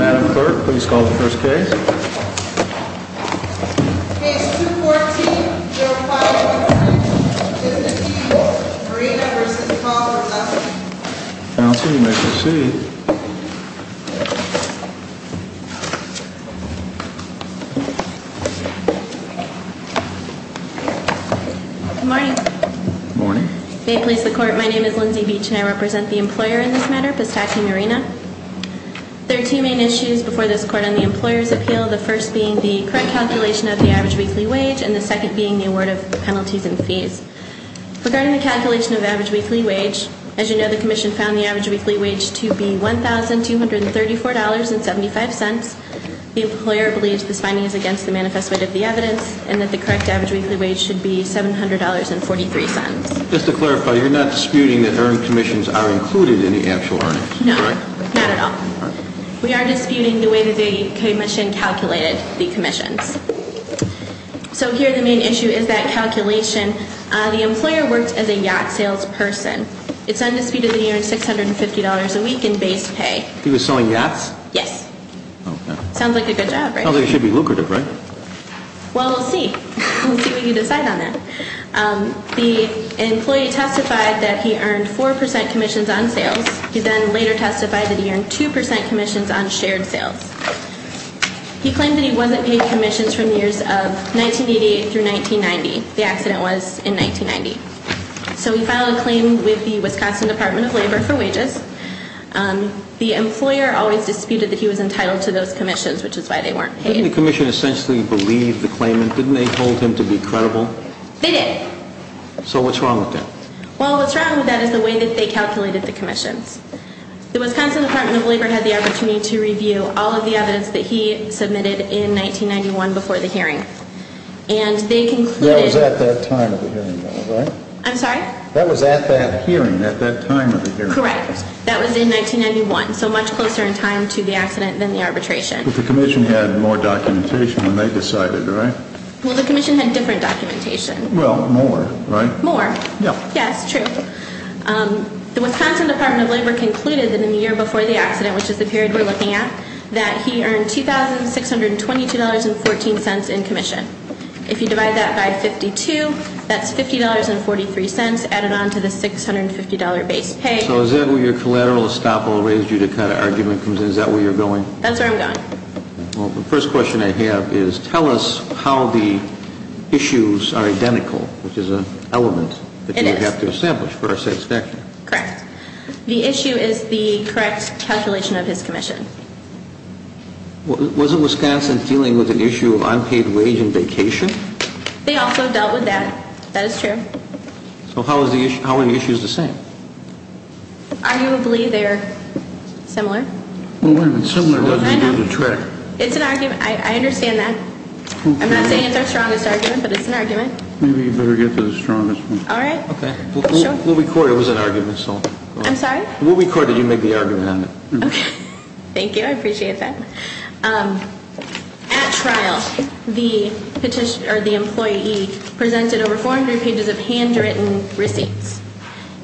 Madam Clerk, please call the first case. Case 214-051, Pistakee Marina v. Caldera. Counsel, you may proceed. Good morning. Good morning. May it please the Court, my name is Lindsay Beach and I represent the employer in this matter, Pistakee Marina. There are two main issues before this Court on the employer's appeal. The first being the correct calculation of the average weekly wage and the second being the award of penalties and fees. Regarding the calculation of the average weekly wage, as you know, the Commission found the average weekly wage to be $1,234.75. The employer believes this finding is against the manifest weight of the evidence and that the correct average weekly wage should be $700.43. Just to clarify, you're not disputing that earned commissions are included in the actual earnings, correct? No, not at all. We are disputing the way that the Commission calculated the commissions. So here the main issue is that calculation. The employer works as a yacht salesperson. It's undisputed that he earns $650 a week in base pay. He was selling yachts? Yes. Okay. Sounds like a good job, right? Sounds like it should be lucrative, right? Well, we'll see. We'll see what you decide on that. The employee testified that he earned 4% commissions on sales. He then later testified that he earned 2% commissions on shared sales. He claimed that he wasn't paying commissions from years of 1988 through 1990. The accident was in 1990. So he filed a claim with the Wisconsin Department of Labor for wages. The employer always disputed that he was entitled to those commissions, which is why they weren't paid. Didn't the Commission essentially believe the claimant? Didn't they hold him to be credible? They did. So what's wrong with that? Well, what's wrong with that is the way that they calculated the commissions. The Wisconsin Department of Labor had the opportunity to review all of the evidence that he submitted in 1991 before the hearing. And they concluded— That was at that time of the hearing, though, right? I'm sorry? That was at that hearing, at that time of the hearing. Correct. That was in 1991, so much closer in time to the accident than the arbitration. But the Commission had more documentation than they decided, right? Well, the Commission had different documentation. Well, more, right? More. Yeah. Yeah, it's true. The Wisconsin Department of Labor concluded that in the year before the accident, which is the period we're looking at, that he earned $2,622.14 in commission. If you divide that by 52, that's $50.43 added on to the $650 base pay. So is that where your collateral estoppel raised you to kind of argument comes in? Is that where you're going? That's where I'm going. Well, the first question I have is tell us how the issues are identical, which is an element that you would have to establish for our satisfaction. Correct. The issue is the correct calculation of his commission. Was it Wisconsin dealing with an issue of unpaid wage and vacation? They also dealt with that. That is true. So how are the issues the same? Arguably, they're similar. Well, wait a minute. Similar doesn't do the trick. It's an argument. I understand that. I'm not saying it's our strongest argument, but it's an argument. Maybe you better get the strongest one. All right. Okay. We'll record it. It was an argument, so. I'm sorry? We'll record it. You make the argument on it. Okay. Thank you. I appreciate that. At trial, the employee presented over 400 pages of handwritten receipts.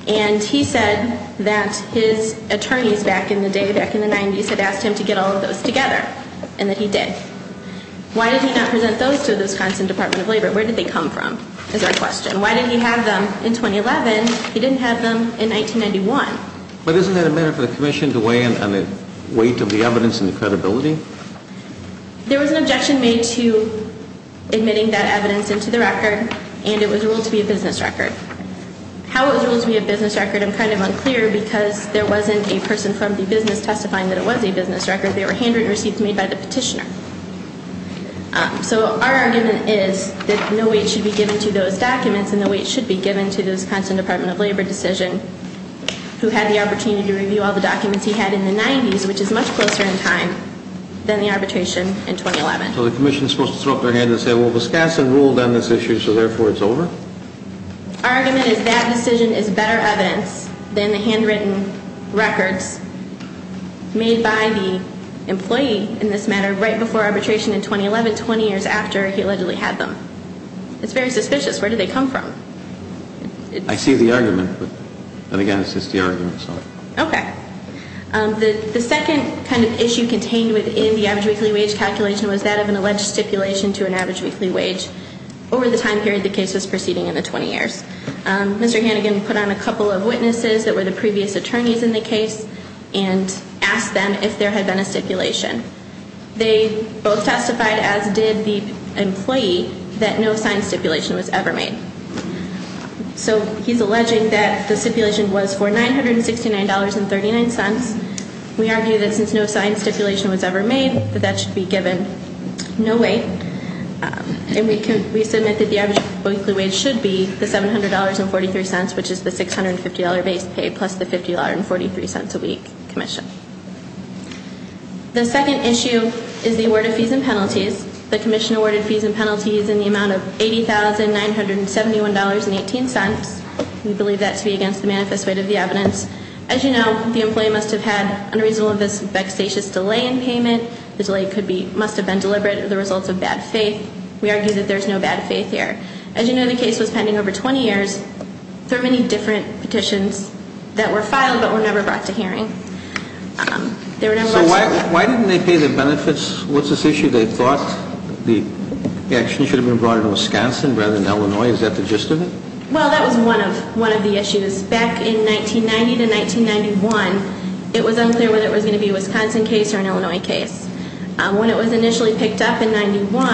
And he said that his attorneys back in the day, back in the 90s, had asked him to get all of those together, and that he did. Why did he not present those to the Wisconsin Department of Labor? Where did they come from is our question. Why did he have them in 2011? He didn't have them in 1991. But isn't that a matter for the commission to weigh in on the weight of the evidence and the credibility? There was an objection made to admitting that evidence into the record, and it was ruled to be a business record. How it was ruled to be a business record, I'm kind of unclear, because there wasn't a person from the business testifying that it was a business record. They were handwritten receipts made by the petitioner. So our argument is that no weight should be given to those documents, and no weight should be given to the Wisconsin Department of Labor decision, who had the opportunity to review all the documents he had in the 90s, which is much closer in time than the arbitration in 2011. So the commission is supposed to throw up their hands and say, well, Wisconsin ruled on this issue, so therefore it's over? Our argument is that decision is better evidence than the handwritten records made by the employee in this matter right before arbitration in 2011, 20 years after he allegedly had them. It's very suspicious. Where did they come from? I see the argument, but again, it's just the argument. Okay. The second kind of issue contained within the average weekly wage calculation was that of an alleged stipulation to an average weekly wage. Over the time period the case was proceeding in the 20 years. Mr. Hannigan put on a couple of witnesses that were the previous attorneys in the case and asked them if there had been a stipulation. They both testified, as did the employee, that no signed stipulation was ever made. So he's alleging that the stipulation was for $969.39. We argue that since no signed stipulation was ever made, that that should be given no weight. And we submit that the average weekly wage should be the $700.43, which is the $650 base pay, plus the $50.43 a week commission. The second issue is the award of fees and penalties. The commission awarded fees and penalties in the amount of $80,971.18. We believe that to be against the manifest weight of the evidence. As you know, the employee must have had, unreasonably, this vexatious delay in payment. The delay must have been deliberate or the result of bad faith. We argue that there's no bad faith here. As you know, the case was pending over 20 years. There are many different petitions that were filed but were never brought to hearing. So why didn't they pay the benefits? What's this issue? They thought the action should have been brought in Wisconsin rather than Illinois. Is that the gist of it? Well, that was one of the issues. Back in 1990 to 1991, it was unclear whether it was going to be a Wisconsin case or an Illinois case. When it was initially picked up in 91,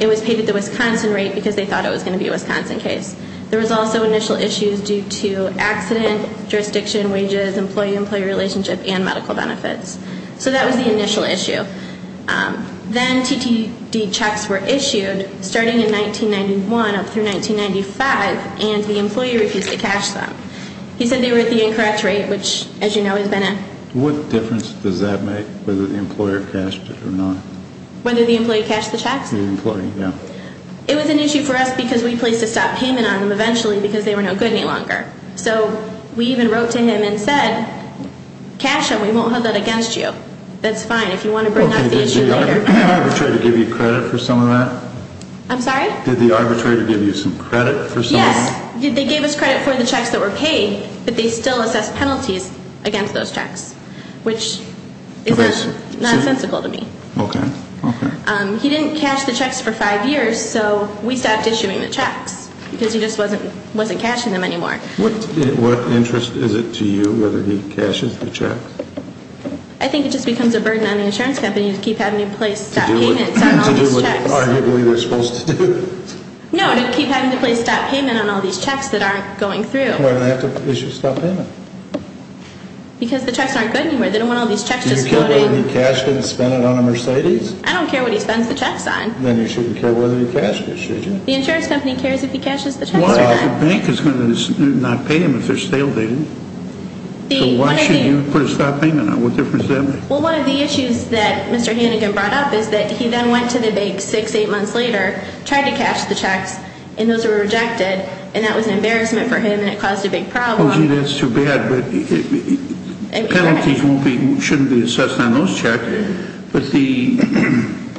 it was paid at the Wisconsin rate because they thought it was going to be a Wisconsin case. There was also initial issues due to accident, jurisdiction, wages, employee-employee relationship, and medical benefits. So that was the initial issue. Then TTD checks were issued starting in 1991 up through 1995, and the employee refused to cash them. He said they were at the incorrect rate, which, as you know, has been a- What difference does that make whether the employer cashed it or not? Whether the employee cashed the checks? The employee, yeah. It was an issue for us because we placed a stop payment on them eventually because they were no good any longer. So we even wrote to him and said, cash them, we won't hold that against you. That's fine if you want to bring up the issue later. Did the arbitrator give you credit for some of that? I'm sorry? Did the arbitrator give you some credit for some of that? Yes. They gave us credit for the checks that were paid, but they still assessed penalties against those checks, which is not sensical to me. Okay. He didn't cash the checks for five years, so we stopped issuing the checks because he just wasn't cashing them anymore. What interest is it to you whether he cashes the checks? I think it just becomes a burden on the insurance company to keep having to place stop payments on all these checks. To do what arguably they're supposed to do. No, to keep having to place stop payment on all these checks that aren't going through. Why do they have to issue stop payment? Because the checks aren't good anymore. They don't want all these checks just floating. Do you care whether he cashed it and spent it on a Mercedes? I don't care what he spends the checks on. Then you shouldn't care whether he cashed it, should you? The insurance company cares if he cashes the checks or not. The bank is going to not pay them if they're stale, David. So why should you put a stop payment on them? What difference does that make? Well, one of the issues that Mr. Hannigan brought up is that he then went to the bank six, eight months later, tried to cash the checks, and those were rejected. And that was an embarrassment for him, and it caused a big problem. Oh, gee, that's too bad. Penalties shouldn't be assessed on those checks. But the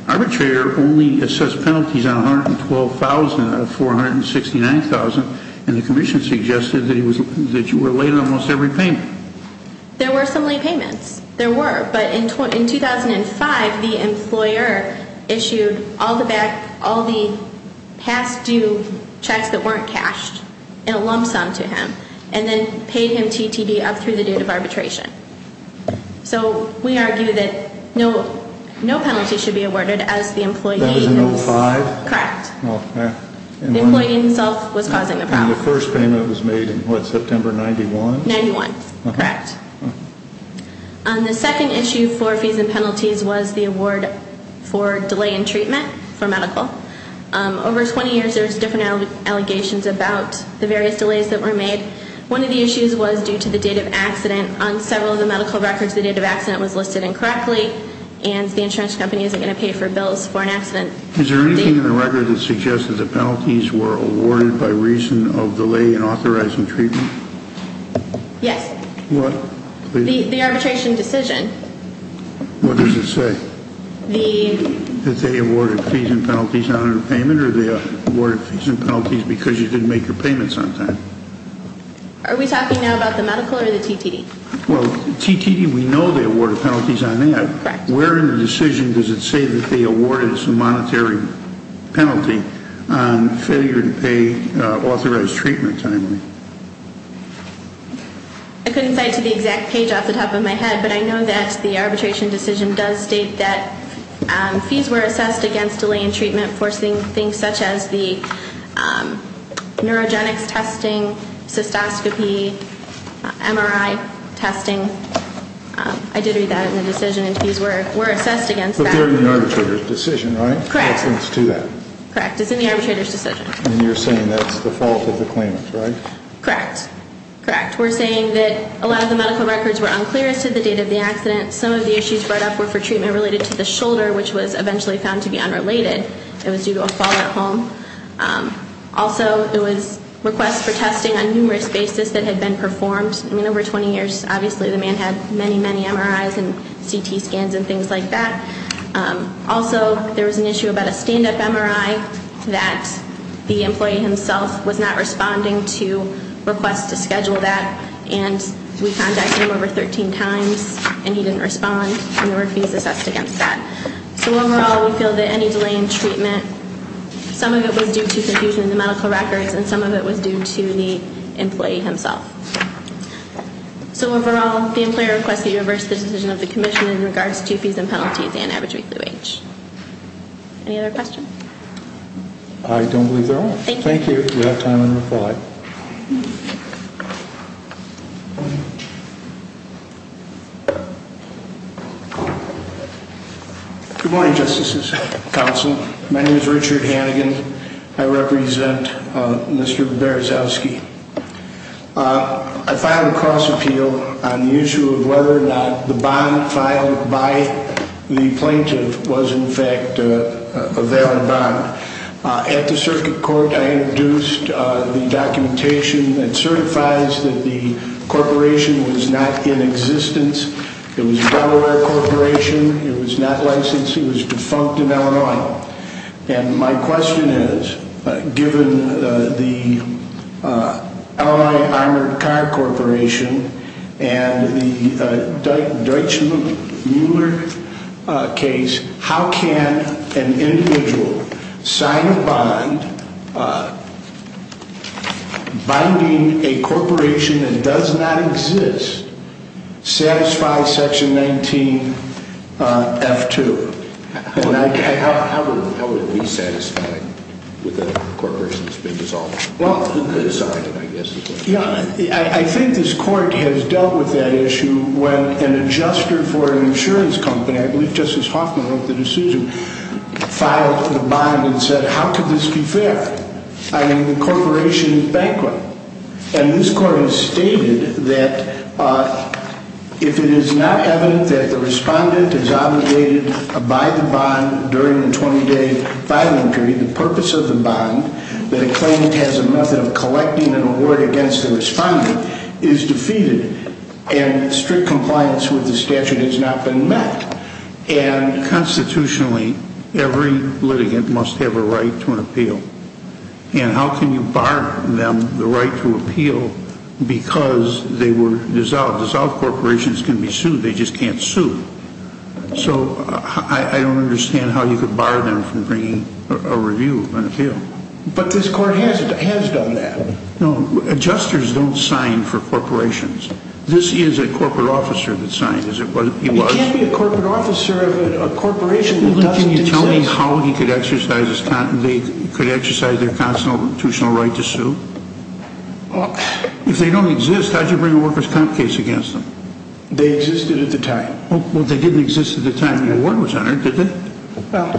arbitrator only assessed penalties on 112,000 out of 469,000, and the commission suggested that you were late on most every payment. There were some late payments. There were. But in 2005, the employer issued all the past due checks that weren't cashed in a lump sum to him and then paid him TTD up through the date of arbitration. So we argue that no penalty should be awarded as the employee is. That was in 2005? Correct. The employee himself was causing the problem. And the first payment was made in, what, September 91? 91. Correct. The second issue for fees and penalties was the award for delay in treatment for medical. Over 20 years, there was different allegations about the various delays that were made. One of the issues was due to the date of accident. On several of the medical records, the date of accident was listed incorrectly, and the insurance company isn't going to pay for bills for an accident. Is there anything in the record that suggests that the penalties were awarded by reason of delay in authorizing treatment? Yes. What? The arbitration decision. What does it say? That they awarded fees and penalties not under payment, under the award of fees and penalties because you didn't make your payments on time. Are we talking now about the medical or the TTD? Well, TTD, we know they awarded penalties on that. Correct. Where in the decision does it say that they awarded as a monetary penalty on failure to pay authorized treatment timely? I couldn't cite to the exact page off the top of my head, but I know that the arbitration decision does state that fees were assessed against delay in treatment, forcing things such as the neurogenics testing, cystoscopy, MRI testing. I did read that in the decision, and fees were assessed against that. But they're in the arbitrator's decision, right? Correct. It's in the arbitrator's decision. And you're saying that's the fault of the claimant, right? Correct. Correct. We're saying that a lot of the medical records were unclear as to the date of the accident. Some of the issues brought up were for treatment related to the shoulder, which was eventually found to be unrelated. It was due to a fall at home. Also, it was requests for testing on numerous basis that had been performed. I mean, over 20 years, obviously, the man had many, many MRIs and CT scans and things like that. Also, there was an issue about a stand-up MRI that the employee himself was not responding to requests to schedule that, and we contacted him over 13 times, and he didn't respond, and there were fees assessed against that. So overall, we feel that any delay in treatment, some of it was due to confusion in the medical records, and some of it was due to the employee himself. So overall, the employer requests that you reverse the decision of the commission in regards to fees and penalties and average weekly wage. Any other questions? I don't believe there are. Thank you. Thank you. We have time for a reply. Good morning, Justices and Counsel. My name is Richard Hannigan. I represent Mr. Berzowski. I filed a cross-appeal on the issue of whether or not the bond filed by the plaintiff was, in fact, a valid bond. At the Circuit Court, I introduced the documentation that certifies that the corporation was not in existence. It was a Delaware corporation. It was not licensed. It was defunct in Illinois. And my question is, given the L.A. Armored Car Corporation and the Deutschmüller case, how can an individual sign a bond binding a corporation that does not exist satisfy Section 19F2? How would he be satisfied with a corporation that's been dissolved? Well, I think this Court has dealt with that issue when an adjuster for an insurance company, I believe Justice Hoffman wrote the decision, filed the bond and said, how could this be fair? I mean, the corporation is bankrupt. And this Court has stated that if it is not evident that the respondent is obligated to buy the bond during the 20-day filing period, the purpose of the bond, that a claimant has a method of collecting an award against the respondent, is defeated. And strict compliance with the statute has not been met. And constitutionally, every litigant must have a right to an appeal. And how can you bar them the right to appeal because they were dissolved? Dissolved corporations can be sued, they just can't sue. So I don't understand how you could bar them from bringing a review and appeal. But this Court has done that. No, adjusters don't sign for corporations. This is a corporate officer that signed. Well, can you tell me how they could exercise their constitutional right to sue? If they don't exist, how did you bring a workers' comp case against them? They existed at the time. Well, they didn't exist at the time the award was entered, did they? Well,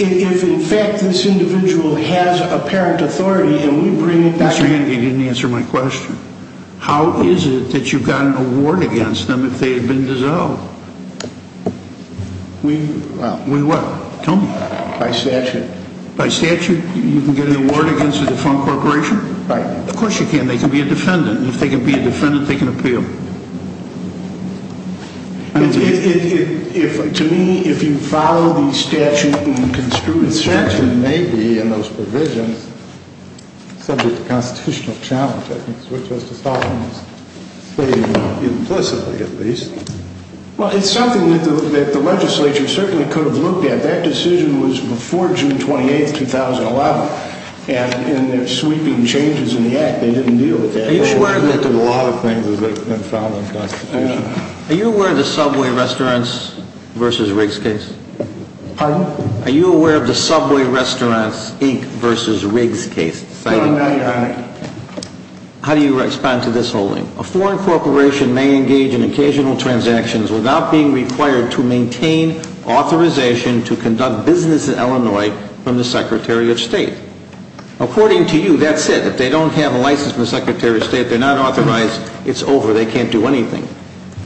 if in fact this individual has apparent authority and we bring it back. Mr. Hannigan, you didn't answer my question. How is it that you've got an award against them if they have been dissolved? We what? Tell me. By statute. By statute, you can get an award against a dissolved corporation? Right. Of course you can. They can be a defendant. And if they can be a defendant, they can appeal. To me, if you follow the statute and construed statute. The statute may be in those provisions subject to constitutional challenge. Well, it's something that the legislature certainly could have looked at. That decision was before June 28, 2011. And in their sweeping changes in the act, they didn't deal with that. Are you aware of the Subway Restaurants v. Riggs case? Pardon? Are you aware of the Subway Restaurants Inc. v. Riggs case? How do you respond to this holding? A foreign corporation may engage in occasional transactions without being required to maintain authorization to conduct business in Illinois from the Secretary of State. According to you, that's it. If they don't have a license from the Secretary of State, they're not authorized. It's over. They can't do anything.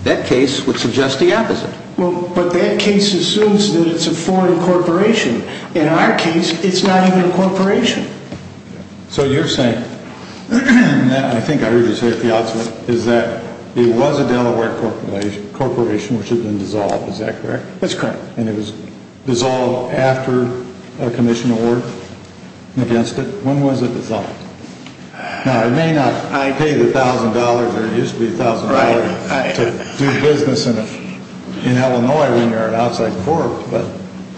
That case would suggest the opposite. But that case assumes that it's a foreign corporation. In our case, it's not even a corporation. So you're saying, and I think I heard you say it the opposite, is that it was a Delaware corporation which had been dissolved, is that correct? That's correct. And it was dissolved after a commission award against it? When was it dissolved? Now, it may not pay the $1,000, or it used to be $1,000 to do business in Illinois when you're an outside corp.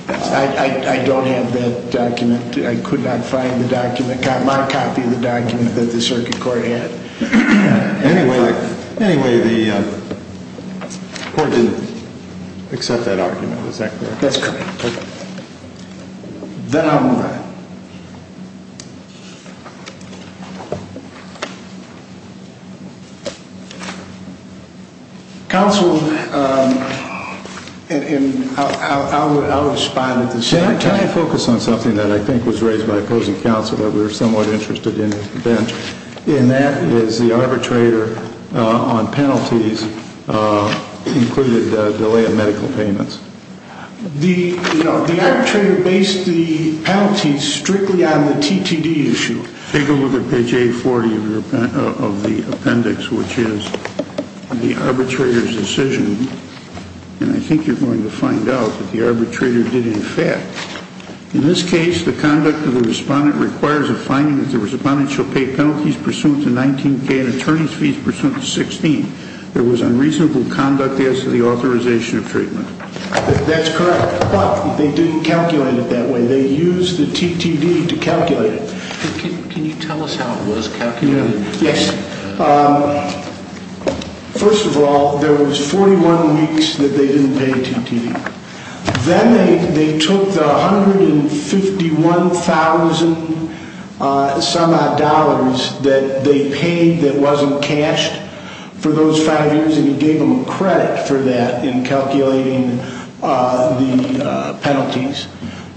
I don't have that document. I could not find the document, my copy of the document that the circuit court had. Anyway, the court didn't accept that argument. Is that correct? That's correct. Then I'll move on. Counsel, I'll respond at the same time. Can I focus on something that I think was raised by opposing counsel that we were somewhat interested in, Ben? And that is the arbitrator on penalties included a delay of medical payments. The arbitrator based the penalties strictly on the TTD issue. Take a look at page 840 of the appendix, which is the arbitrator's decision. And I think you're going to find out that the arbitrator did in fact. In this case, the conduct of the respondent requires a finding that the respondent shall pay penalties pursuant to 19K and attorney's fees pursuant to 16. There was unreasonable conduct as to the authorization of treatment. That's correct. But they didn't calculate it that way. They used the TTD to calculate it. Can you tell us how it was calculated? Yes. First of all, there was 41 weeks that they didn't pay TTD. Then they took the 151,000 some odd dollars that they paid that wasn't cashed for those five years and gave them credit for that in calculating the penalties.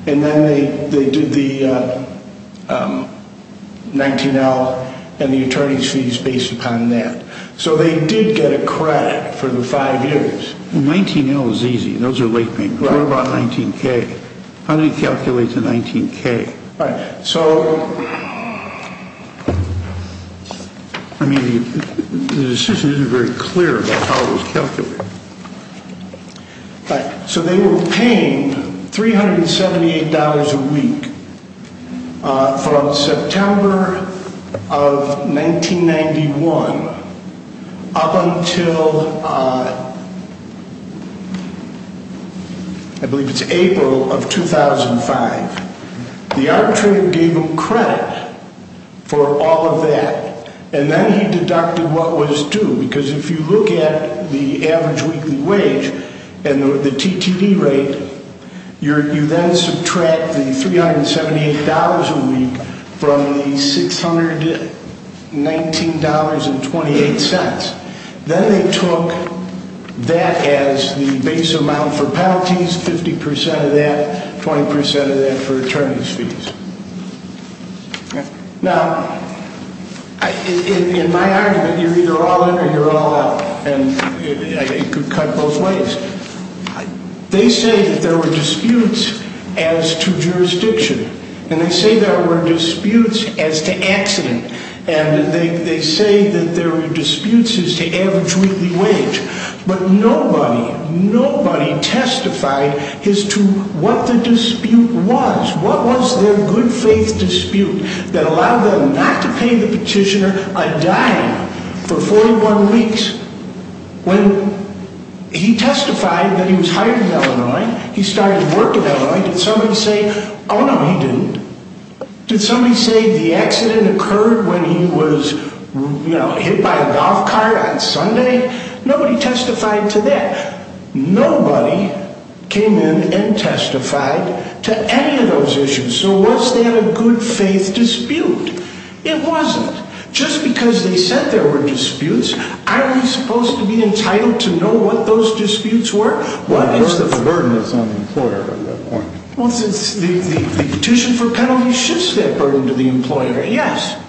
And then they did the 19L and the attorney's fees based upon that. So they did get a credit for the five years. 19L is easy. Those are late payments. What about 19K? How do you calculate the 19K? Right. So. I mean, the decision isn't very clear about how it was calculated. Right. So they were paying $378 a week from September of 1991 up until I believe it's April of 2005. The arbitrator gave them credit for all of that. And then he deducted what was due. Because if you look at the average weekly wage and the TTD rate, you then subtract the $378 a week from the $619.28. Then they took that as the base amount for penalties, 50% of that, 20% of that for attorney's fees. Now, in my argument, you're either all in or you're all out. And I could cut both ways. They say that there were disputes as to jurisdiction. And they say there were disputes as to accident. And they say that there were disputes as to average weekly wage. But nobody, nobody testified as to what the dispute was. What was their good faith dispute that allowed them not to pay the petitioner a dime for 41 weeks? When he testified that he was hired in Illinois, he started work in Illinois, did somebody say, oh, no, he didn't? Did somebody say the accident occurred when he was, you know, hit by a golf cart on Sunday? Nobody testified to that. Nobody came in and testified to any of those issues. So was that a good faith dispute? It wasn't. Just because they said there were disputes, aren't we supposed to be entitled to know what those disputes were? Well, it's the burden that's on the employer at that point. Well, the petition for penalty shifts that burden to the employer, yes.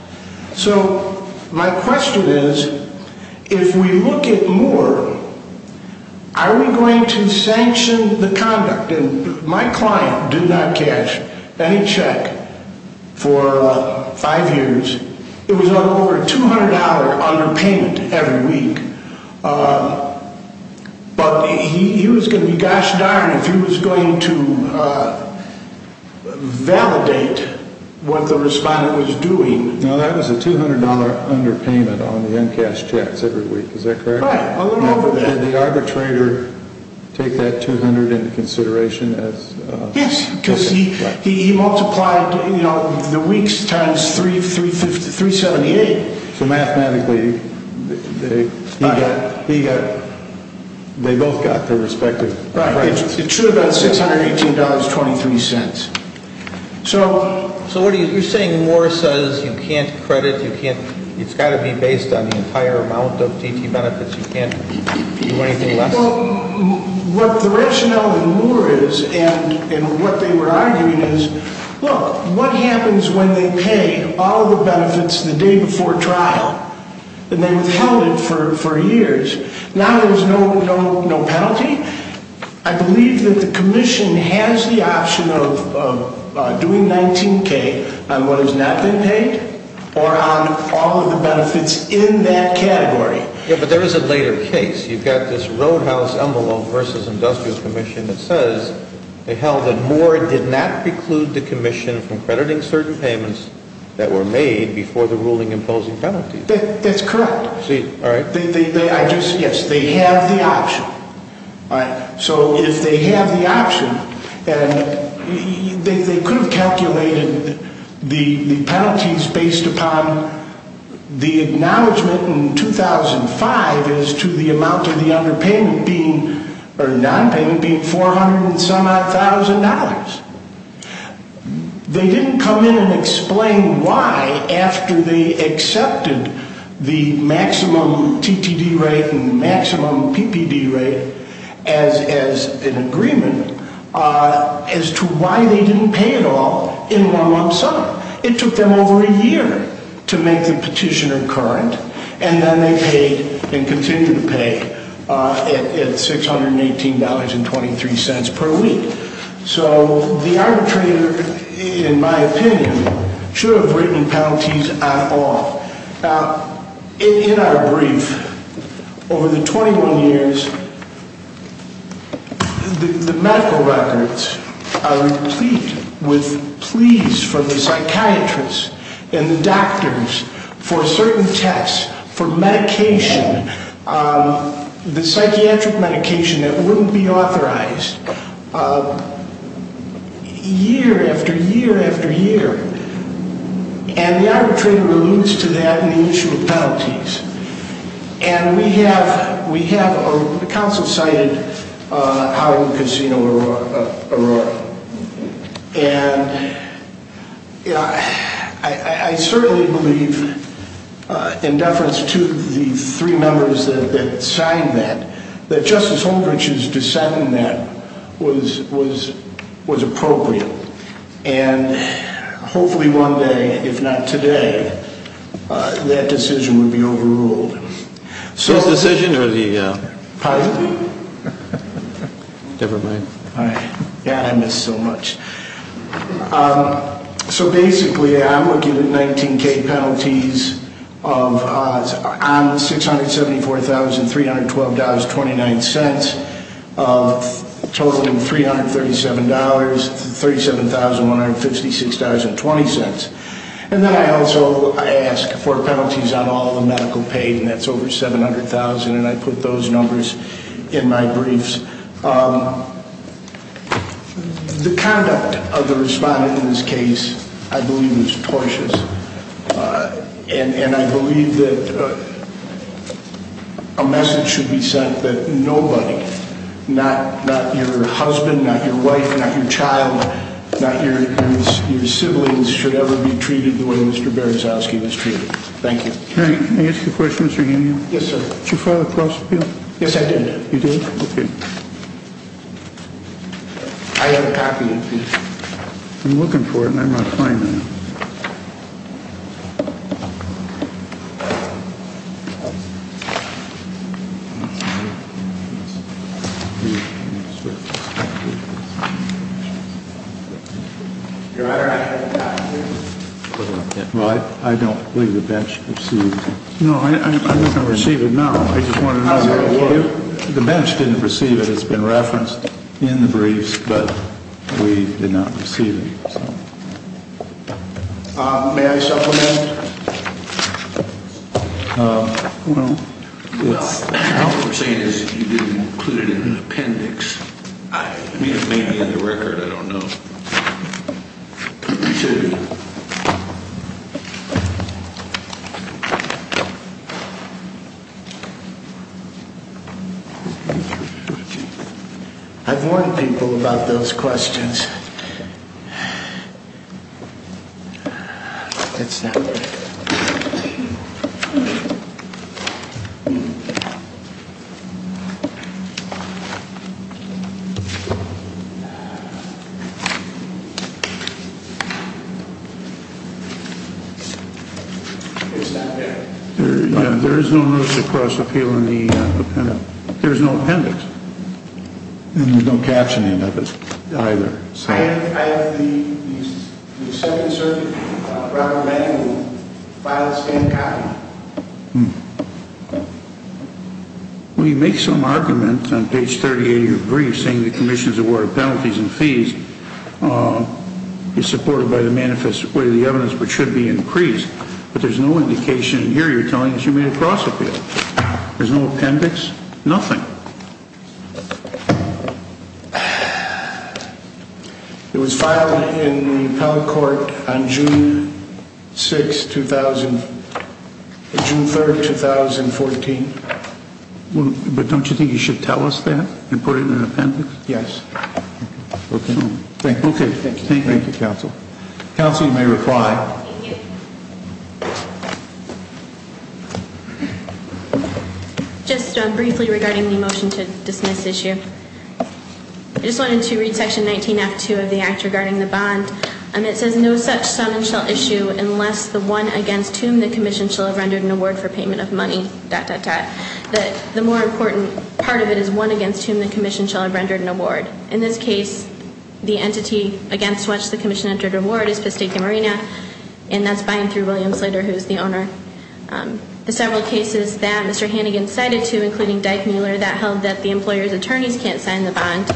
So my question is, if we look at Moore, are we going to sanction the conduct? And my client did not cash any check for five years. It was over a $200 underpayment every week. But he was going to be, gosh darn, if he was going to validate what the respondent was doing. Now, that was a $200 underpayment on the uncashed checks every week, is that correct? Right, a little over that. Did the arbitrator take that $200 into consideration? Yes, because he multiplied, you know, the weeks times 378. So mathematically, they both got their respective wages. It should have been $618.23. So you're saying Moore says you can't credit, it's got to be based on the entire amount of DT benefits, you can't do anything less? Well, what the rationale in Moore is, and what they were arguing is, look, what happens when they pay all the benefits the day before trial? And they withheld it for years. Now there's no penalty? I believe that the commission has the option of doing 19K on what has not been paid, or on all of the benefits in that category. Yeah, but there is a later case. You've got this Roadhouse Envelope v. Industrial Commission that says they held that Moore did not preclude the commission from crediting certain payments that were made before the ruling imposing penalties. That's correct. All right. Yes, they have the option. All right. So if they have the option, and they could have calculated the penalties based upon the acknowledgement in 2005 as to the amount of the underpayment being, or nonpayment being $400,000. They didn't come in and explain why, after they accepted the maximum TTD rate and the maximum PPD rate as an agreement, as to why they didn't pay it all in one month's time. It took them over a year to make the petitioner current, and then they paid and continue to pay at $618.23 per week. So the arbitrator, in my opinion, should have written penalties at all. In our brief, over the 21 years, the medical records are replete with pleas from the psychiatrists and the doctors for certain tests, for medication, the psychiatric medication that wouldn't be authorized, year after year after year. And the arbitrator alludes to that in the issue of penalties. And we have, the council cited Howard Casino Arroyo. And I certainly believe, in deference to the three members that signed that, that Justice Holmgren's dissent in that was appropriate. And hopefully one day, if not today, that decision would be overruled. His decision, or the? Privately. Never mind. God, I miss so much. So basically, I'm looking at 19K penalties on $674,312.29, totaling $337,37,156.20. And then I also ask for penalties on all the medical paid, and that's over $700,000, and I put those numbers in my briefs. The conduct of the respondent in this case, I believe, was tortious. And I believe that a message should be sent that nobody, not your husband, not your wife, not your child, not your siblings, should ever be treated the way Mr. Berezovsky was treated. Thank you. May I ask a question, Mr. Healy? Yes, sir. Did you file a cross-appeal? Yes, I did. You did? Okay. I have a copy of these. I'm looking for it, and I'm not finding it. Your Honor, I have a copy of this. Well, I don't believe the bench received it. No, I'm not going to receive it now. The bench didn't receive it. It's been referenced in the briefs, but we did not receive it. May I supplement? What we're saying is you didn't include it in the appendix. I mean, it may be in the record. I don't know. Thank you. I've warned people about those questions. It's not there. It's not there. There is no notice of cross-appeal in the appendix. There's no appendix. And there's no captioning of it either. We make some argument on page 38 of your brief saying the commission's award of penalties and fees is supported by the manifest way of the evidence, which should be increased, but there's no indication here you're telling us you made a cross-appeal. There's no appendix. Nothing. But don't you think you should tell us that and put it in an appendix? Yes. Okay. Thank you, counsel. Counsel, you may reply. Thank you. Just briefly regarding the motion to dismiss issue. I just wanted to read section 19-F-2 of the act regarding the bond. It says no such summons shall issue unless the one against whom the commission shall have rendered an award for payment of money, dot, dot, dot. The more important part of it is one against whom the commission shall have rendered an award. In this case, the entity against which the commission entered an award is Pistica Marina, and that's buying through William Slater, who's the owner. There's several cases that Mr. Hannigan cited to, including Dyke-Mueller, that held that the employer's attorneys can't sign the bond.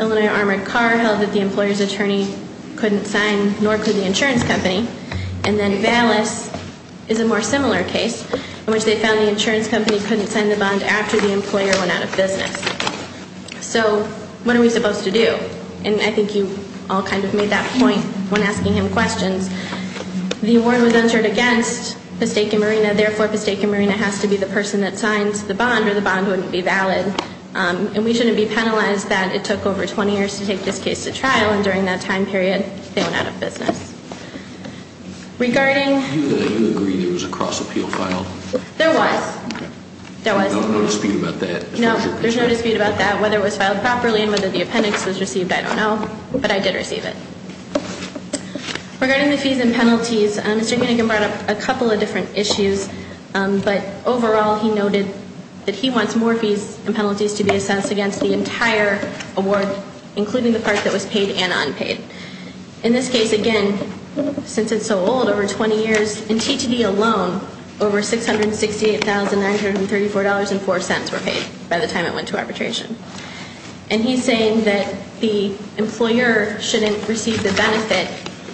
Illinois Armored Car held that the employer's attorney couldn't sign, nor could the insurance company. And then Vallis is a more similar case, in which they found the insurance company couldn't sign the bond after the employer went out of business. So, what are we supposed to do? And I think you all kind of made that point when asking him questions. The award was entered against Pistica Marina, therefore Pistica Marina has to be the person that signs the bond, or the bond wouldn't be valid. And we shouldn't be penalized that it took over 20 years to take this case to trial, and during that time period, they went out of business. Regarding... You agree there was a cross-appeal filed? There was. Okay. There was. There's no dispute about that? No, there's no dispute about that. Whether it was filed properly and whether the appendix was received, I don't know. But I did receive it. Regarding the fees and penalties, Mr. Hannigan brought up a couple of different issues. But overall, he noted that he wants more fees and penalties to be assessed against the entire award, including the part that was paid and unpaid. In this case, again, since it's so old, over 20 years, in TTD alone, over $668,934.04 were paid by the time it went to arbitration. And he's saying that the employer shouldn't receive the benefit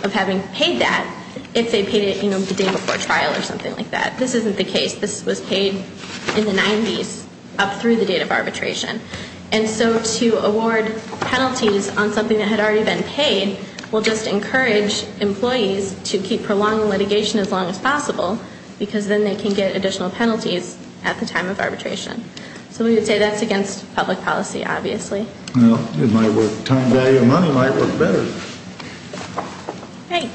of having paid that if they paid it, you know, the day before trial or something like that. This isn't the case. This was paid in the 90s, up through the date of arbitration. And so to award penalties on something that had already been paid will just encourage employees to keep prolonging litigation as long as possible because then they can get additional penalties at the time of arbitration. So we would say that's against public policy, obviously. Well, it might work. Time, value, and money might work better. Great.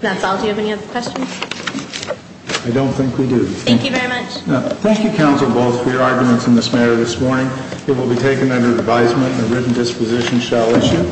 That's all. Do you have any other questions? I don't think we do. Thank you very much. Thank you, counsel, both, for your arguments in this matter this morning. It will be taken under advisement and a written disposition shall issue.